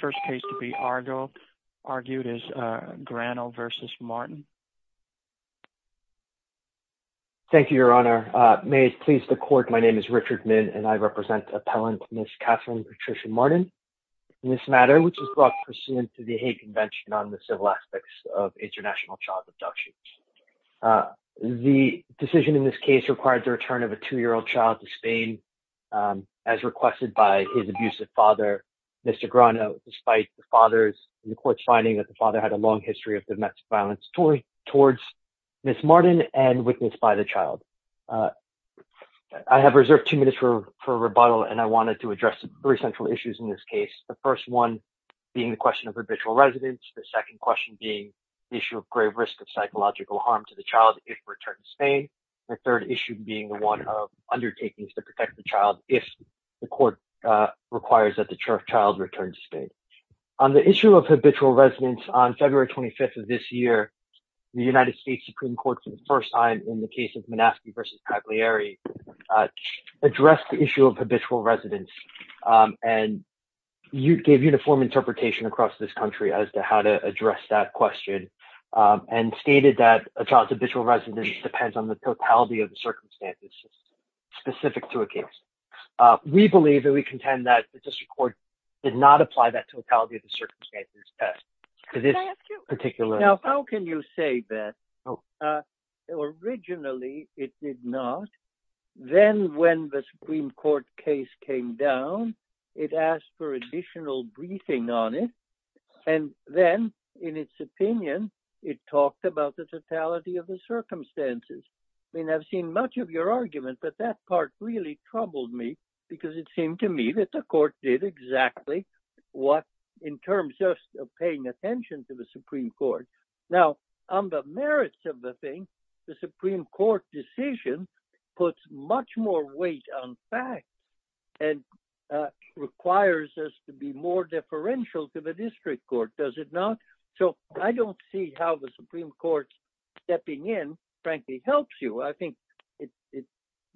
Thank you, Your Honor. May it please the Court, my name is Richard Min, and I represent Appellant Ms. Catherine Patricia Martin in this matter, which is brought pursuant to the Hague Convention on the Civil Aspects of International Child Abduction. The decision in this case required the return of a two-year-old child to Spain as requested by his abusive father, Mr. Grano, despite the father's, the Court's, finding that the father had a long history of domestic violence towards Ms. Martin and witnessed by the child. I have reserved two minutes for rebuttal, and I wanted to address three central issues in this case, the first one being the question of habitual residence, the second question being the issue of grave risk of psychological harm to the child if returned to Spain, and the third issue being the one of undertakings to protect the child if the Court requires that the child return to Spain. On the issue of habitual residence, on February 25th of this year, the United States Supreme Court, for the first time in the case of Manaski v. Cagliari, addressed the issue of habitual residence and gave uniform interpretation across this country as to how to address that question, and stated that a child's habitual residence depends on the totality of the circumstances specific to a case. We believe, and we contend, that the District Court did not apply that totality of the circumstances test to this particular case. Now, how can you say that? Originally, it did not. Then, when the Supreme Court case came down, it asked for additional briefing on it, and then, in its opinion, it talked about the totality of the circumstances. I mean, I've seen much of your argument, but that part really troubled me, because it seemed to me that the Court did exactly what, in terms of paying attention to the Supreme Court. Now, on the merits of the thing, the Supreme Court puts more weight on facts and requires us to be more deferential to the District Court, does it not? So, I don't see how the Supreme Court stepping in, frankly, helps you. I think it's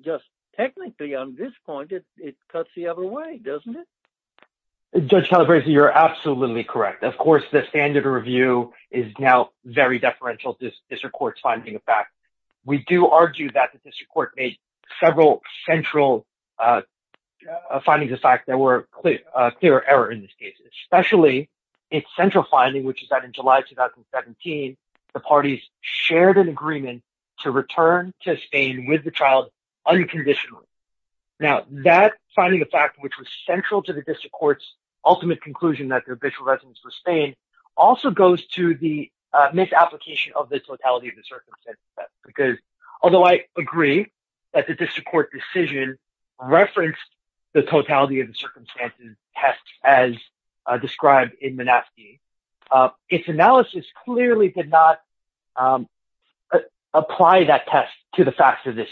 just, technically, on this point, it cuts the other way, doesn't it? Judge Calabresi, you're absolutely correct. Of course, the standard review is now very deferential to the District Court's finding of facts. We do argue that the District Court made several central findings of facts that were a clear error in this case, especially its central finding, which is that, in July 2017, the parties shared an agreement to return to Spain with the child unconditionally. Now, that finding of facts, which was central to the District Court's ultimate conclusion that their official residence was Spain, also goes to the misapplication of the totality of the circumstances test, because, although I agree that the District Court decision referenced the totality of the circumstances test as described in Menaski, its analysis clearly did not apply that test to the facts of this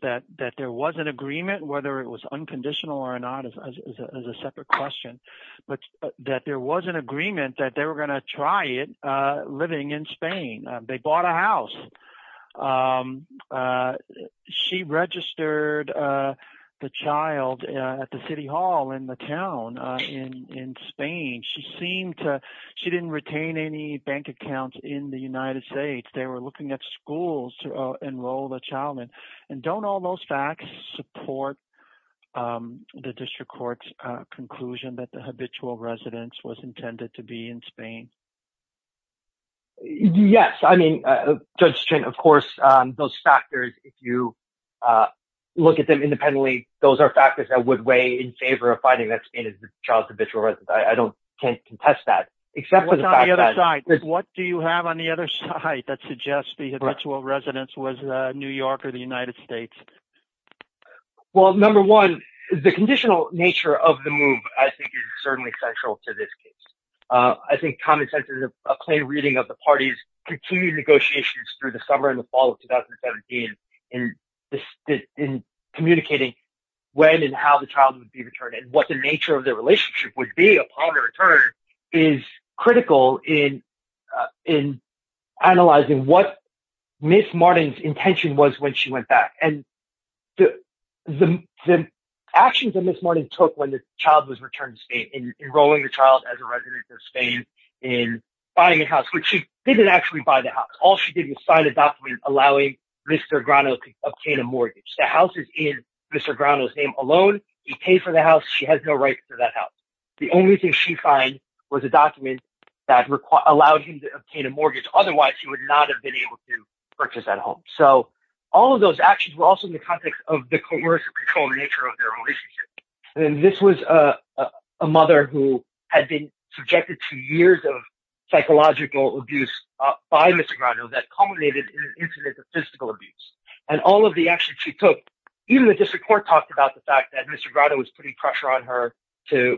that there was an agreement, whether it was unconditional or not is a separate question, but that there was an agreement that they were going to try it living in Spain. They bought a house. She registered the child at the City Hall in the town in Spain. She didn't retain any bank accounts in the United States. They were looking at schools to enroll the child in, and don't all those facts support the District Court's conclusion that the habitual residence was intended to be in Spain? Yes. I mean, Judge String, of course, those factors, if you look at them independently, those are factors that would weigh in favor of finding that Spain is the child's habitual residence. I don't can't contest that, except for the fact that... What do you have on the other side that suggests the habitual residence was New York? Well, number one, the conditional nature of the move, I think, is certainly central to this case. I think common sense is a plain reading of the parties' continued negotiations through the summer and the fall of 2017 in communicating when and how the child would be returned, and what the nature of their relationship would be upon their return is critical in analyzing what Ms. Martin's intention was when she went back. And the actions that Ms. Martin took when the child was returned to Spain, in enrolling the child as a resident of Spain, in buying a house, which she didn't actually buy the house. All she did was sign a document allowing Mr. Grano to obtain a mortgage. The house is in Mr. Grano's name alone. He paid for the house. She has no right to that house. The only thing she signed was the document that allowed him to obtain a mortgage. Otherwise, he would not have been able to purchase that home. So, all of those actions were also in the context of the coercive control nature of their relationship. And this was a mother who had been subjected to years of psychological abuse by Mr. Grano that culminated in an incident of physical abuse. And all of the actions she took, even the district court talked about the fact that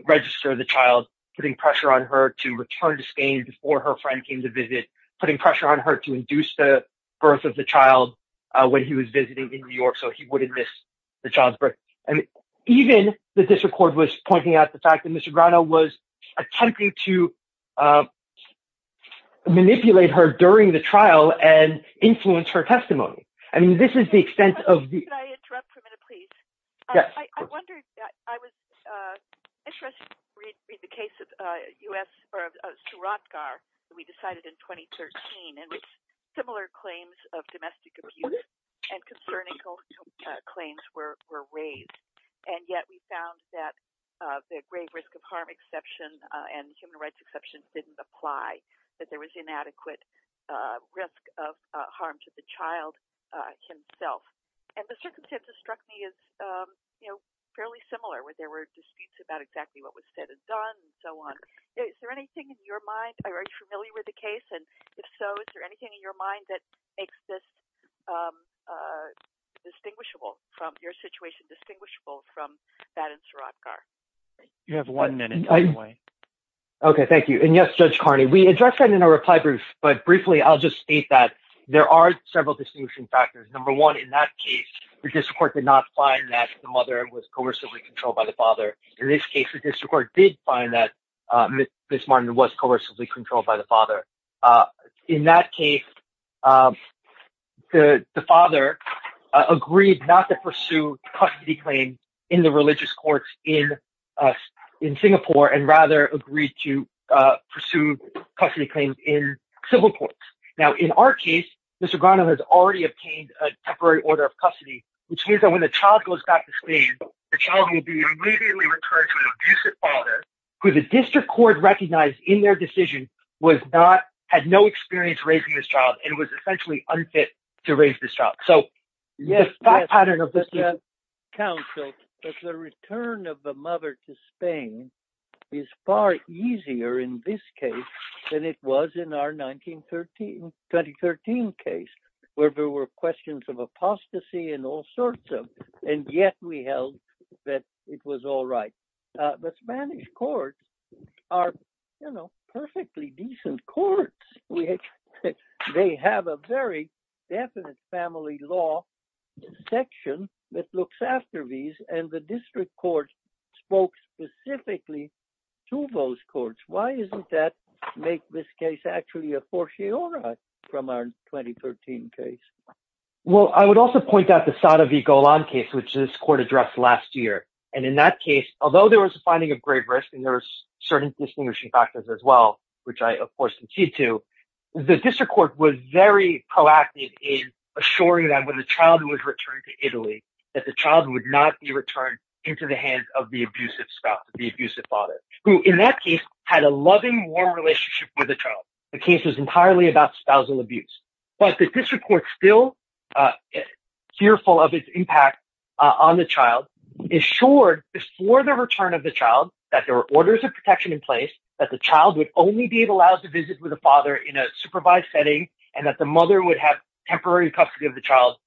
register the child, putting pressure on her to return to Spain before her friend came to visit, putting pressure on her to induce the birth of the child when he was visiting in New York, so he wouldn't miss the child's birth. And even the district court was pointing out the fact that Mr. Grano was attempting to manipulate her during the trial and influence her testimony. I mean, this is the extent of the... Can I interrupt for a minute, please? I was interested to read the case of Suratgar, we decided in 2013, and similar claims of domestic abuse and concerning claims were raised. And yet, we found that the grave risk of harm exception and human rights exceptions didn't apply, that there was inadequate risk of harm to the child himself. And the circumstances struck me as fairly similar, where there were disputes about exactly what was said and done and so on. Is there anything in your mind, are you familiar with the case? And if so, is there anything in your mind that makes this distinguishable from your situation, distinguishable from that in Suratgar? You have one minute, by the way. Okay, thank you. And yes, Judge Carney, we addressed that in our reply brief, but briefly, I'll just state that there are several distinguishing factors. Number one, in that case, the district court did not find that the mother was coercively controlled by the father. In this case, the district court did find that Ms. Martin was coercively controlled by the father. In that case, the father agreed not to pursue custody claims in the religious courts in Singapore, and rather agreed to pursue custody claims in civil courts. Now, in our case, Mr. Grano has already obtained a temporary order of custody, which means that when the child goes back to Spain, the child will be immediately returned to an abusive father, who the district court recognized in their decision had no experience raising this child and was essentially unfit to mother to Spain is far easier in this case than it was in our 2013 case, where there were questions of apostasy and all sorts of, and yet we held that it was all right. The Spanish courts are, you know, perfectly decent courts. They have a very definite family law section that looks after these, and the district court spoke specifically to those courts. Why isn't that make this case actually a fortiori from our 2013 case? Well, I would also point out the Sadevi-Golan case, which this court addressed last year. And in that case, although there was a finding of great risk, and there was certain distinguishing factors as well, which I of course alluded to, the district court was very proactive in assuring that when the child was returned to Italy, that the child would not be returned into the hands of the abusive spouse, the abusive father, who in that case had a loving, warm relationship with the child. The case was entirely about spousal abuse, but the district court still fearful of its impact on the child, assured before the return of the child that there were orders of protection in place, that the child would only be allowed to visit with the father in a supervised setting, and that the mother would have temporary custody of child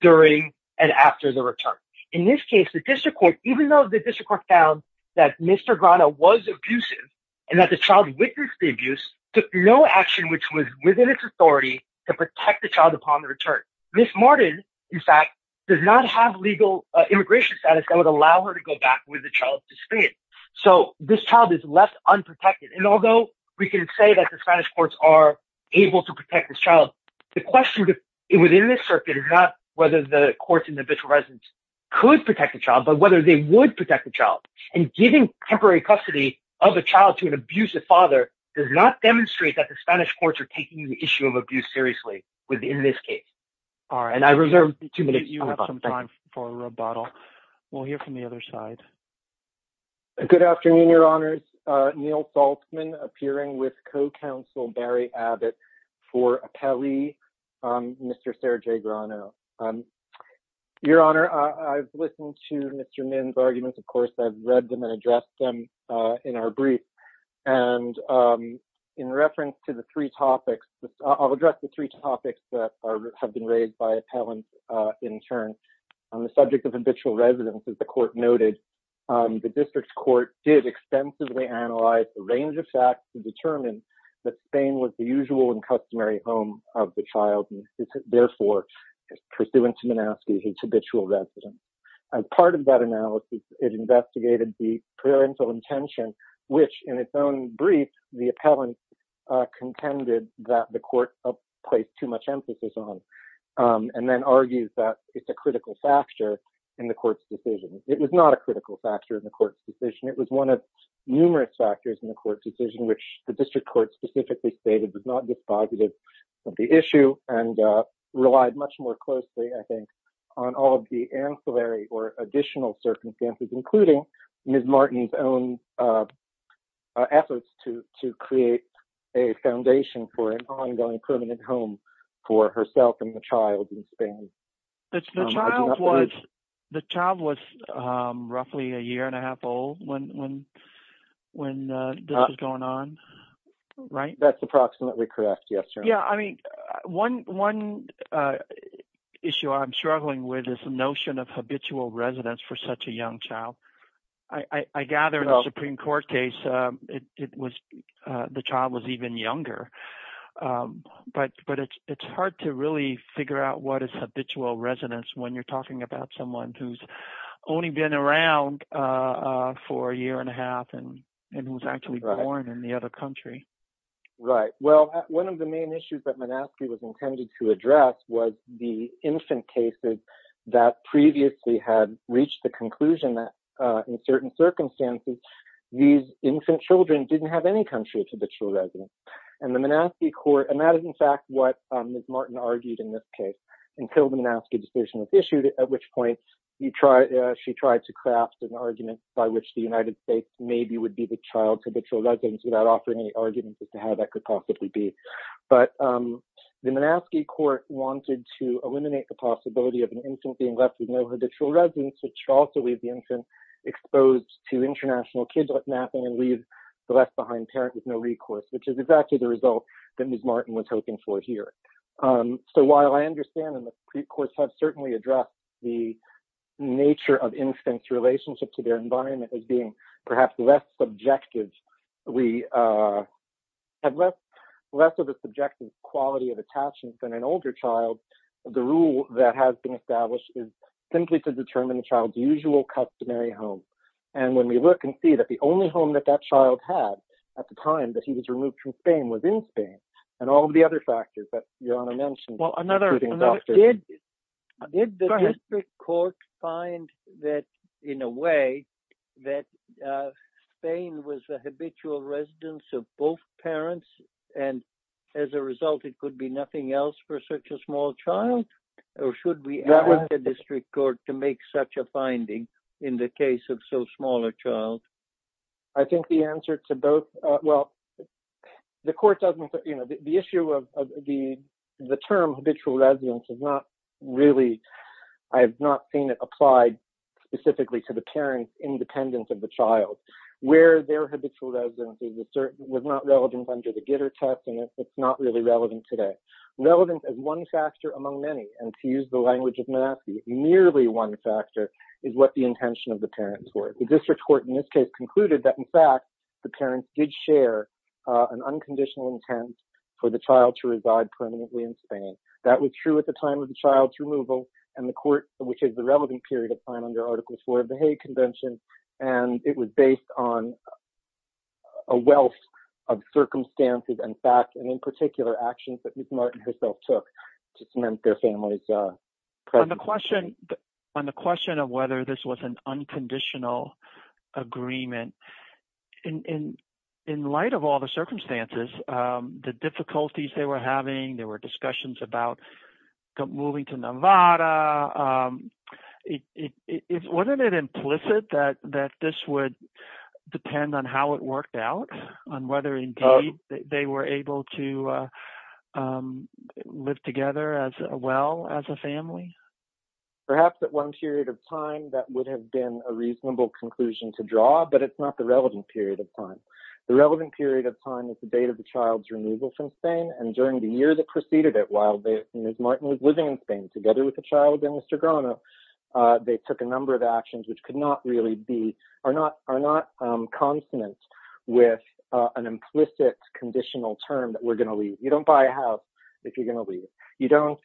during and after the return. In this case, the district court, even though the district court found that Mr. Grana was abusive, and that the child witnessed the abuse, took no action which was within its authority to protect the child upon the return. Ms. Martin, in fact, does not have legal immigration status that would allow her to go back with the child to Spain. So this child is left unprotected. And although we can say that the Spanish courts are able to protect this child, the question within this circuit is not whether the courts in the Mitchell residence could protect the child, but whether they would protect the child. And giving temporary custody of a child to an abusive father does not demonstrate that the Spanish courts are taking the issue of abuse seriously within this case. All right, and I reserve two minutes for a rebuttal. We'll hear from the other side. Good afternoon, your honors. Neil Saltzman, appearing with co-counsel Barry Abbott for appellee, Mr. Sergei Grano. Your honor, I've listened to Mr. Min's arguments. Of course, I've read them and addressed them in our brief. And in reference to the three topics, I'll address the three topics that have been raised by appellants in turn. On the subject of habitual residence, as the court noted, the district court did extensively analyze the range of facts to determine that Spain was the usual and customary home of the child, and therefore, pursuant to Minaski, his habitual residence. As part of that analysis, it investigated the parental intention, which in its own brief, the appellant contended that the court placed too much emphasis on, and then argues that it's a critical factor in the court's decision. It was not a critical factor in the court's decision. It was one of numerous factors in the court's decision, which the district court specifically stated was not dispositive of the issue and relied much more closely, I think, on all of the ancillary or additional circumstances, including Ms. Martin's own efforts to create a foundation for an ongoing permanent home for herself and the child in Spain. The child was roughly a year and a half old when this was going on, right? That's approximately correct, yes. Yeah, I mean, one issue I'm struggling with is the notion of habitual residence for such a young child. I gather the Supreme Court case, the child was even younger, but it's hard to really figure out what is habitual residence when you're talking about someone who's only been around for a year and a half and was actually born in the other country. Right, well, one of the main issues that Minaski was intended to address was the infant cases that previously had reached the these infant children didn't have any country of habitual residence. And the Minaski court, and that is in fact what Ms. Martin argued in this case, until the Minaski decision was issued, at which point she tried to craft an argument by which the United States maybe would be the child's habitual residence without offering any arguments as to how that could possibly be. But the Minaski court wanted to eliminate the possibility of an infant being left with no international kidnapping and leave the left behind parent with no recourse, which is exactly the result that Ms. Martin was hoping for here. So while I understand and the Supreme Court has certainly addressed the nature of infants' relationship to their environment as being perhaps less subjective, we have less of a subjective quality of attachment than an older child. The rule that has been established is simply to determine the child's usual customary home. And when we look and see that the only home that that child had at the time that he was removed from Spain was in Spain and all of the other factors that Your Honor mentioned. Did the district court find that, in a way, that Spain was the habitual residence of both parents and as a result it could be nothing else for such a small child? Or should we ask the district court to make such a finding in the case of so small a child? I think the answer to both, well, the court doesn't, you know, the issue of the term habitual residence is not really, I have not seen it applied specifically to the parent's independence of the child. Where their habitual residence was not relevant under the Gitter test and it's not really relevant today. Relevance is one factor among many, and to use the language of Menaski, merely one factor is what the intention of the parents were. The district court in this case concluded that, in fact, the parents did share an unconditional intent for the child to reside permanently in Spain. That was true at the time of the child's removal and the court, which is the relevant period of time under Article IV of the Hague Convention, and it was based on a wealth of circumstances and facts and in particular actions that Ms. Martin herself took to cement their family's presence in Spain. On the question of whether this was an unconditional agreement, in light of all the circumstances, the difficulties they were having, there were discussions about moving to Nevada, wasn't it implicit that this would depend on how it worked out, on whether indeed they were able to live together as well as a family? Perhaps at one period of time, that would have been a reasonable conclusion to draw, but it's not the relevant period of time. The relevant period of time is the date of the child's removal from Spain, and during the year that preceded it, while Ms. Martin was living in Spain together with the child and Mr. Grano, they took a number of actions which could not really be, are not consonant with an implicit conditional term that we're going to leave. You don't buy a house if you're going to leave. You don't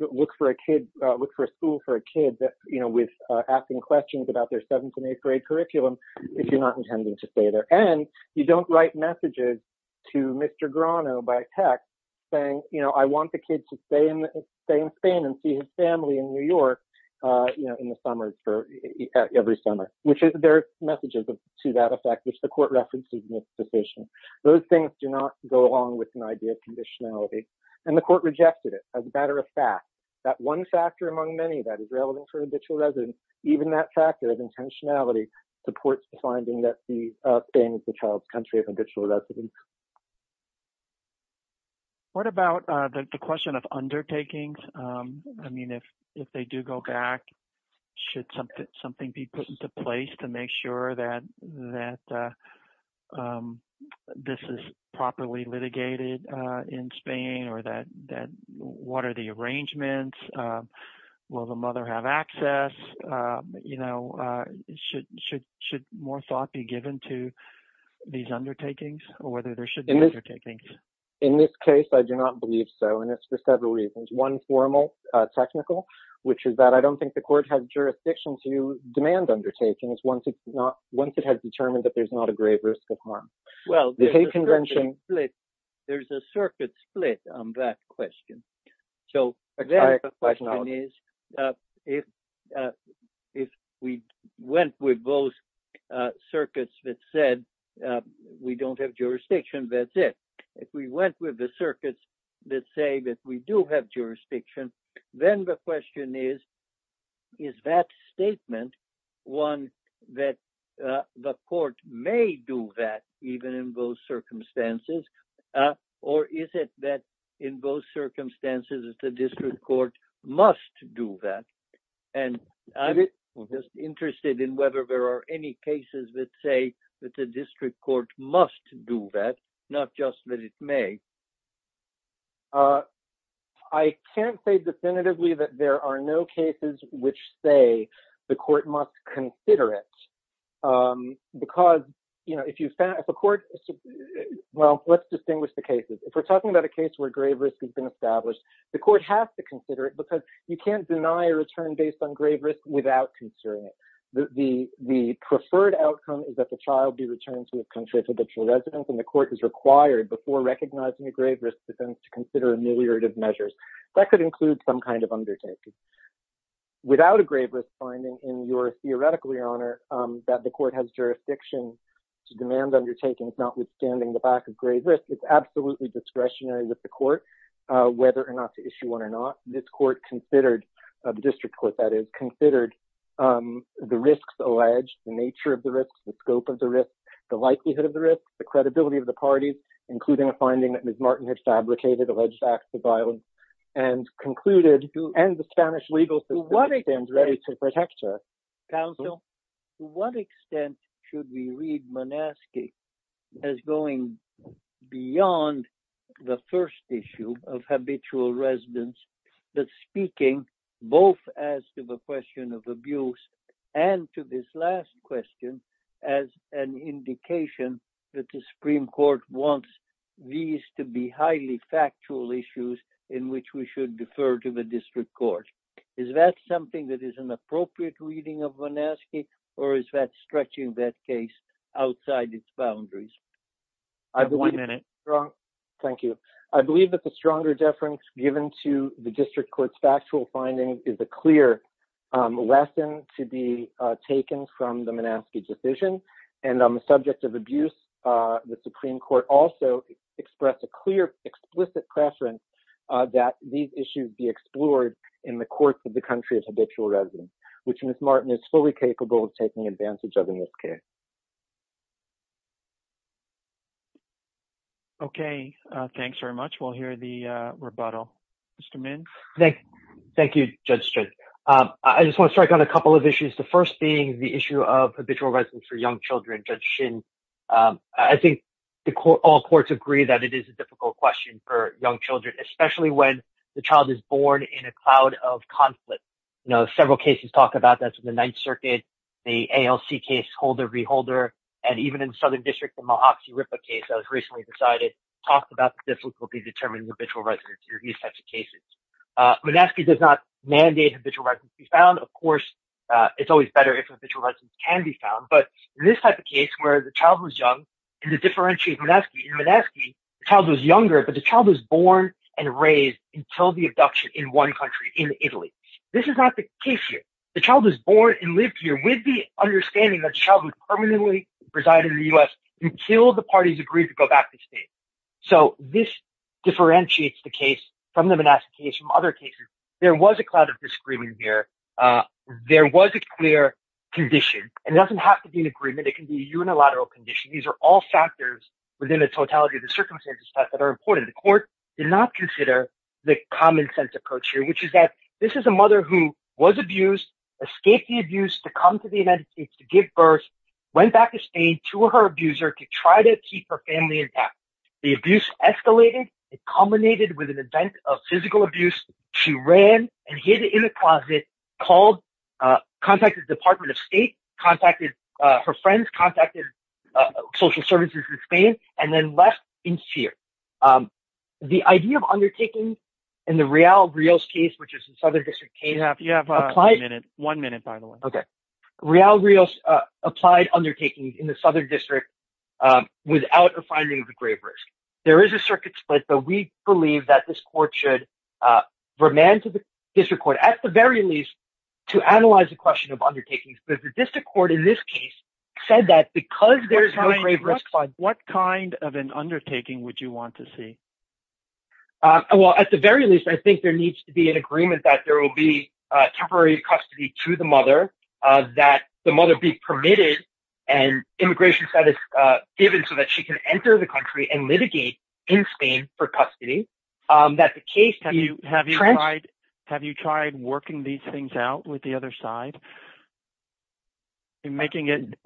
look for a school for a kid with asking questions about their seventh and eighth grade curriculum if you're not intending to stay there, and you don't write messages to Mr. Grano by text saying, you know, I want the kid to stay in Spain and see family in New York, you know, in the summer, every summer, which is, there are messages to that effect, which the court references in its decision. Those things do not go along with an idea of conditionality, and the court rejected it as a matter of fact. That one factor among many that is relevant for an habitual resident, even that factor of intentionality, supports the finding that Spain is the child's country of habitual residents. What about the question of undertakings? I mean, if they do go back, should something be put into place to make sure that this is properly litigated in Spain, or that, what are the arrangements? Will the mother have access? You know, should more thought be given to these undertakings, or whether there should be undertakings? In this case, I do not believe so, and it's for several reasons. One formal, technical, which is that I don't think the court has jurisdiction to demand undertakings once it has determined that there's not a grave risk of harm. Well, there's a circuit split on that question. So, the question is, if we went with both circuits that said we don't have jurisdiction, that's it. If we went with the circuits that say that we do have jurisdiction, then the question is, is that statement one that the court may do that even in those circumstances, or is it that in both circumstances, the district court must do that? And I'm just not just that it may. I can't say definitively that there are no cases which say the court must consider it, because, you know, if you found, if a court, well, let's distinguish the cases. If we're talking about a case where grave risk has been established, the court has to consider it, because you can't deny a return based on grave risk without considering it. The preferred outcome is that the child be returned to a country of habitual residence, and the court is required, before recognizing a grave risk defense, to consider ameliorative measures. That could include some kind of undertaking. Without a grave risk finding, and you're theoretically, Your Honor, that the court has jurisdiction to demand undertakings notwithstanding the back of grave risk, it's absolutely discretionary with the court whether or not to issue one or not. This court considered, the district court, that is, considered the risks alleged, the nature of the scope of the risk, the likelihood of the risk, the credibility of the parties, including a finding that Ms. Martin had fabricated, alleged acts of violence, and concluded, and the Spanish legal system stands ready to protect her. Counsel, to what extent should we read Monasci as going beyond the first issue of habitual residence, that speaking both as to the question of abuse, and to this last question as an indication that the Supreme Court wants these to be highly factual issues in which we should defer to the district court? Is that something that is an appropriate reading of Monasci, or is that stretching that case outside its boundaries? I have one minute. Thank you. I believe that the stronger deference given to the district court's factual findings is a clear lesson to be taken from the Monasci decision, and on the subject of abuse, the Supreme Court also expressed a clear, explicit preference that these issues be explored in the courts of the country of habitual residence, which Ms. Martin is fully capable of taking advantage of in this case. Okay. Thanks very much. We'll hear the rebuttal. Mr. Mintz? Thank you, Judge Strickland. I just want to strike on a couple of issues, the first being the issue of habitual residence for young children, Judge Shin. I think all courts agree that it is a difficult question for young children, especially when the child is born in a cloud of conflict. You know, several cases talk about that in the Ninth Circuit, the ALC case, Holder v. Holder, and even in the Southern District, the Mohopsy-Ripa case that was recently decided, talked about the difficulty determining habitual residence in these types of cases. Monasci does not mandate habitual residence be found. Of course, it's always better if habitual residence can be found. But in this type of case, where the child was young, and to differentiate Monasci, in Monasci, the child was younger, but the child was born and raised until the abduction in one country, in Italy. This is not the case here. The child was born and lived here with the understanding that the child would permanently reside in the U.S. until the parties agreed to back the state. So this differentiates the case from the Monasci case, from other cases. There was a cloud of disagreement here. There was a clear condition. It doesn't have to be an agreement. It can be a unilateral condition. These are all factors within the totality of the circumstances that are important. The court did not consider the common sense approach here, which is that this is a mother who was abused, escaped the abuse to come to the United States to give birth, went back to Spain to her abuser to try to keep her family intact. The abuse escalated. It culminated with an event of physical abuse. She ran and hid in a closet, contacted the Department of State, contacted her friends, contacted social services in Spain, and then left in fear. The idea of undertaking in the Real Rios case, which is a Southern applied undertaking in the Southern district without a finding of a grave risk. There is a circuit split, but we believe that this court should remand to the district court at the very least to analyze the question of undertakings. But the district court in this case said that because there's no grave risk, what kind of an undertaking would you want to see? Well, at the very least, I think there needs to be an agreement that there will be permitted and immigration status given so that she can enter the country and litigate in Spain for custody. Have you tried working these things out with the other side? In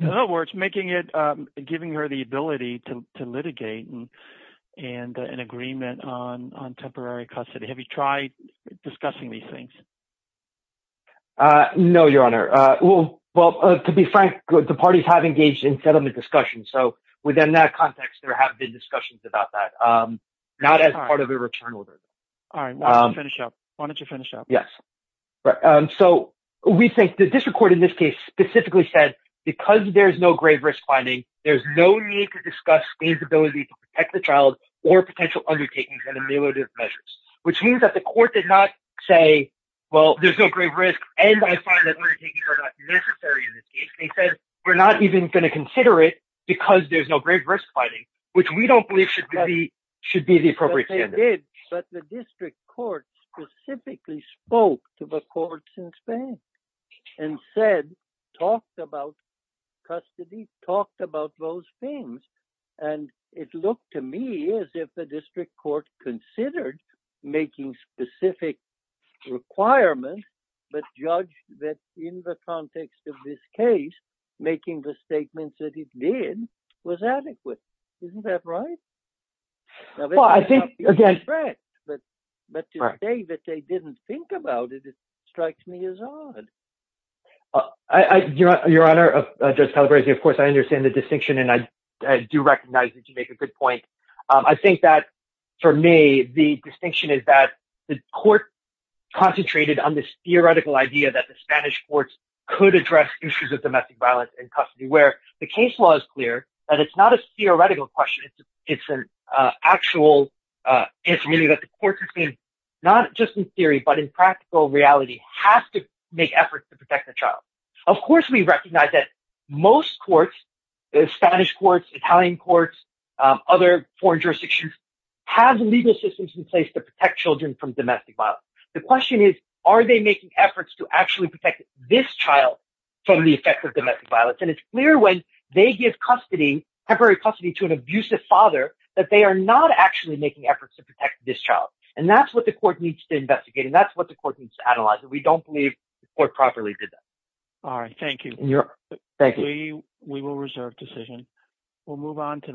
other words, giving her the ability to litigate and an agreement on temporary things? No, Your Honor. Well, to be frank, the parties have engaged in settlement discussion. So within that context, there have been discussions about that, not as part of a return order. All right. Why don't you finish up? Why don't you finish up? Yes. So we think the district court in this case specifically said, because there's no grave risk finding, there's no need to discuss Spain's ability to protect the child or potential undertakings and ameliorative measures, which means that the court did not say, well, there's no grave risk. And I find that undertakings are not necessary in this case. They said, we're not even going to consider it because there's no grave risk finding, which we don't believe should be the appropriate standard. But the district court specifically spoke to the courts in Spain and said, talked about custody, talked about those things. And it considered making specific requirements, but judged that in the context of this case, making the statements that it did was adequate. Isn't that right? Well, I think again, but to say that they didn't think about it, it strikes me as odd. Your Honor, Judge Calabresi, of course, I understand the distinction and I for me, the distinction is that the court concentrated on this theoretical idea that the Spanish courts could address issues of domestic violence and custody, where the case law is clear that it's not a theoretical question. It's an actual, it's really that the courts in Spain, not just in theory, but in practical reality, have to make efforts to protect the child. Of course, we recognize that most courts, Spanish courts, Italian courts, other foreign jurisdictions have legal systems in place to protect children from domestic violence. The question is, are they making efforts to actually protect this child from the effects of domestic violence? And it's clear when they give custody, temporary custody to an abusive father, that they are not actually making efforts to protect this child. And that's what the court needs to investigate. And that's what the court needs to analyze. And we don't believe the court properly did that. All right. Thank you. We will reserve decision. We'll move on to the next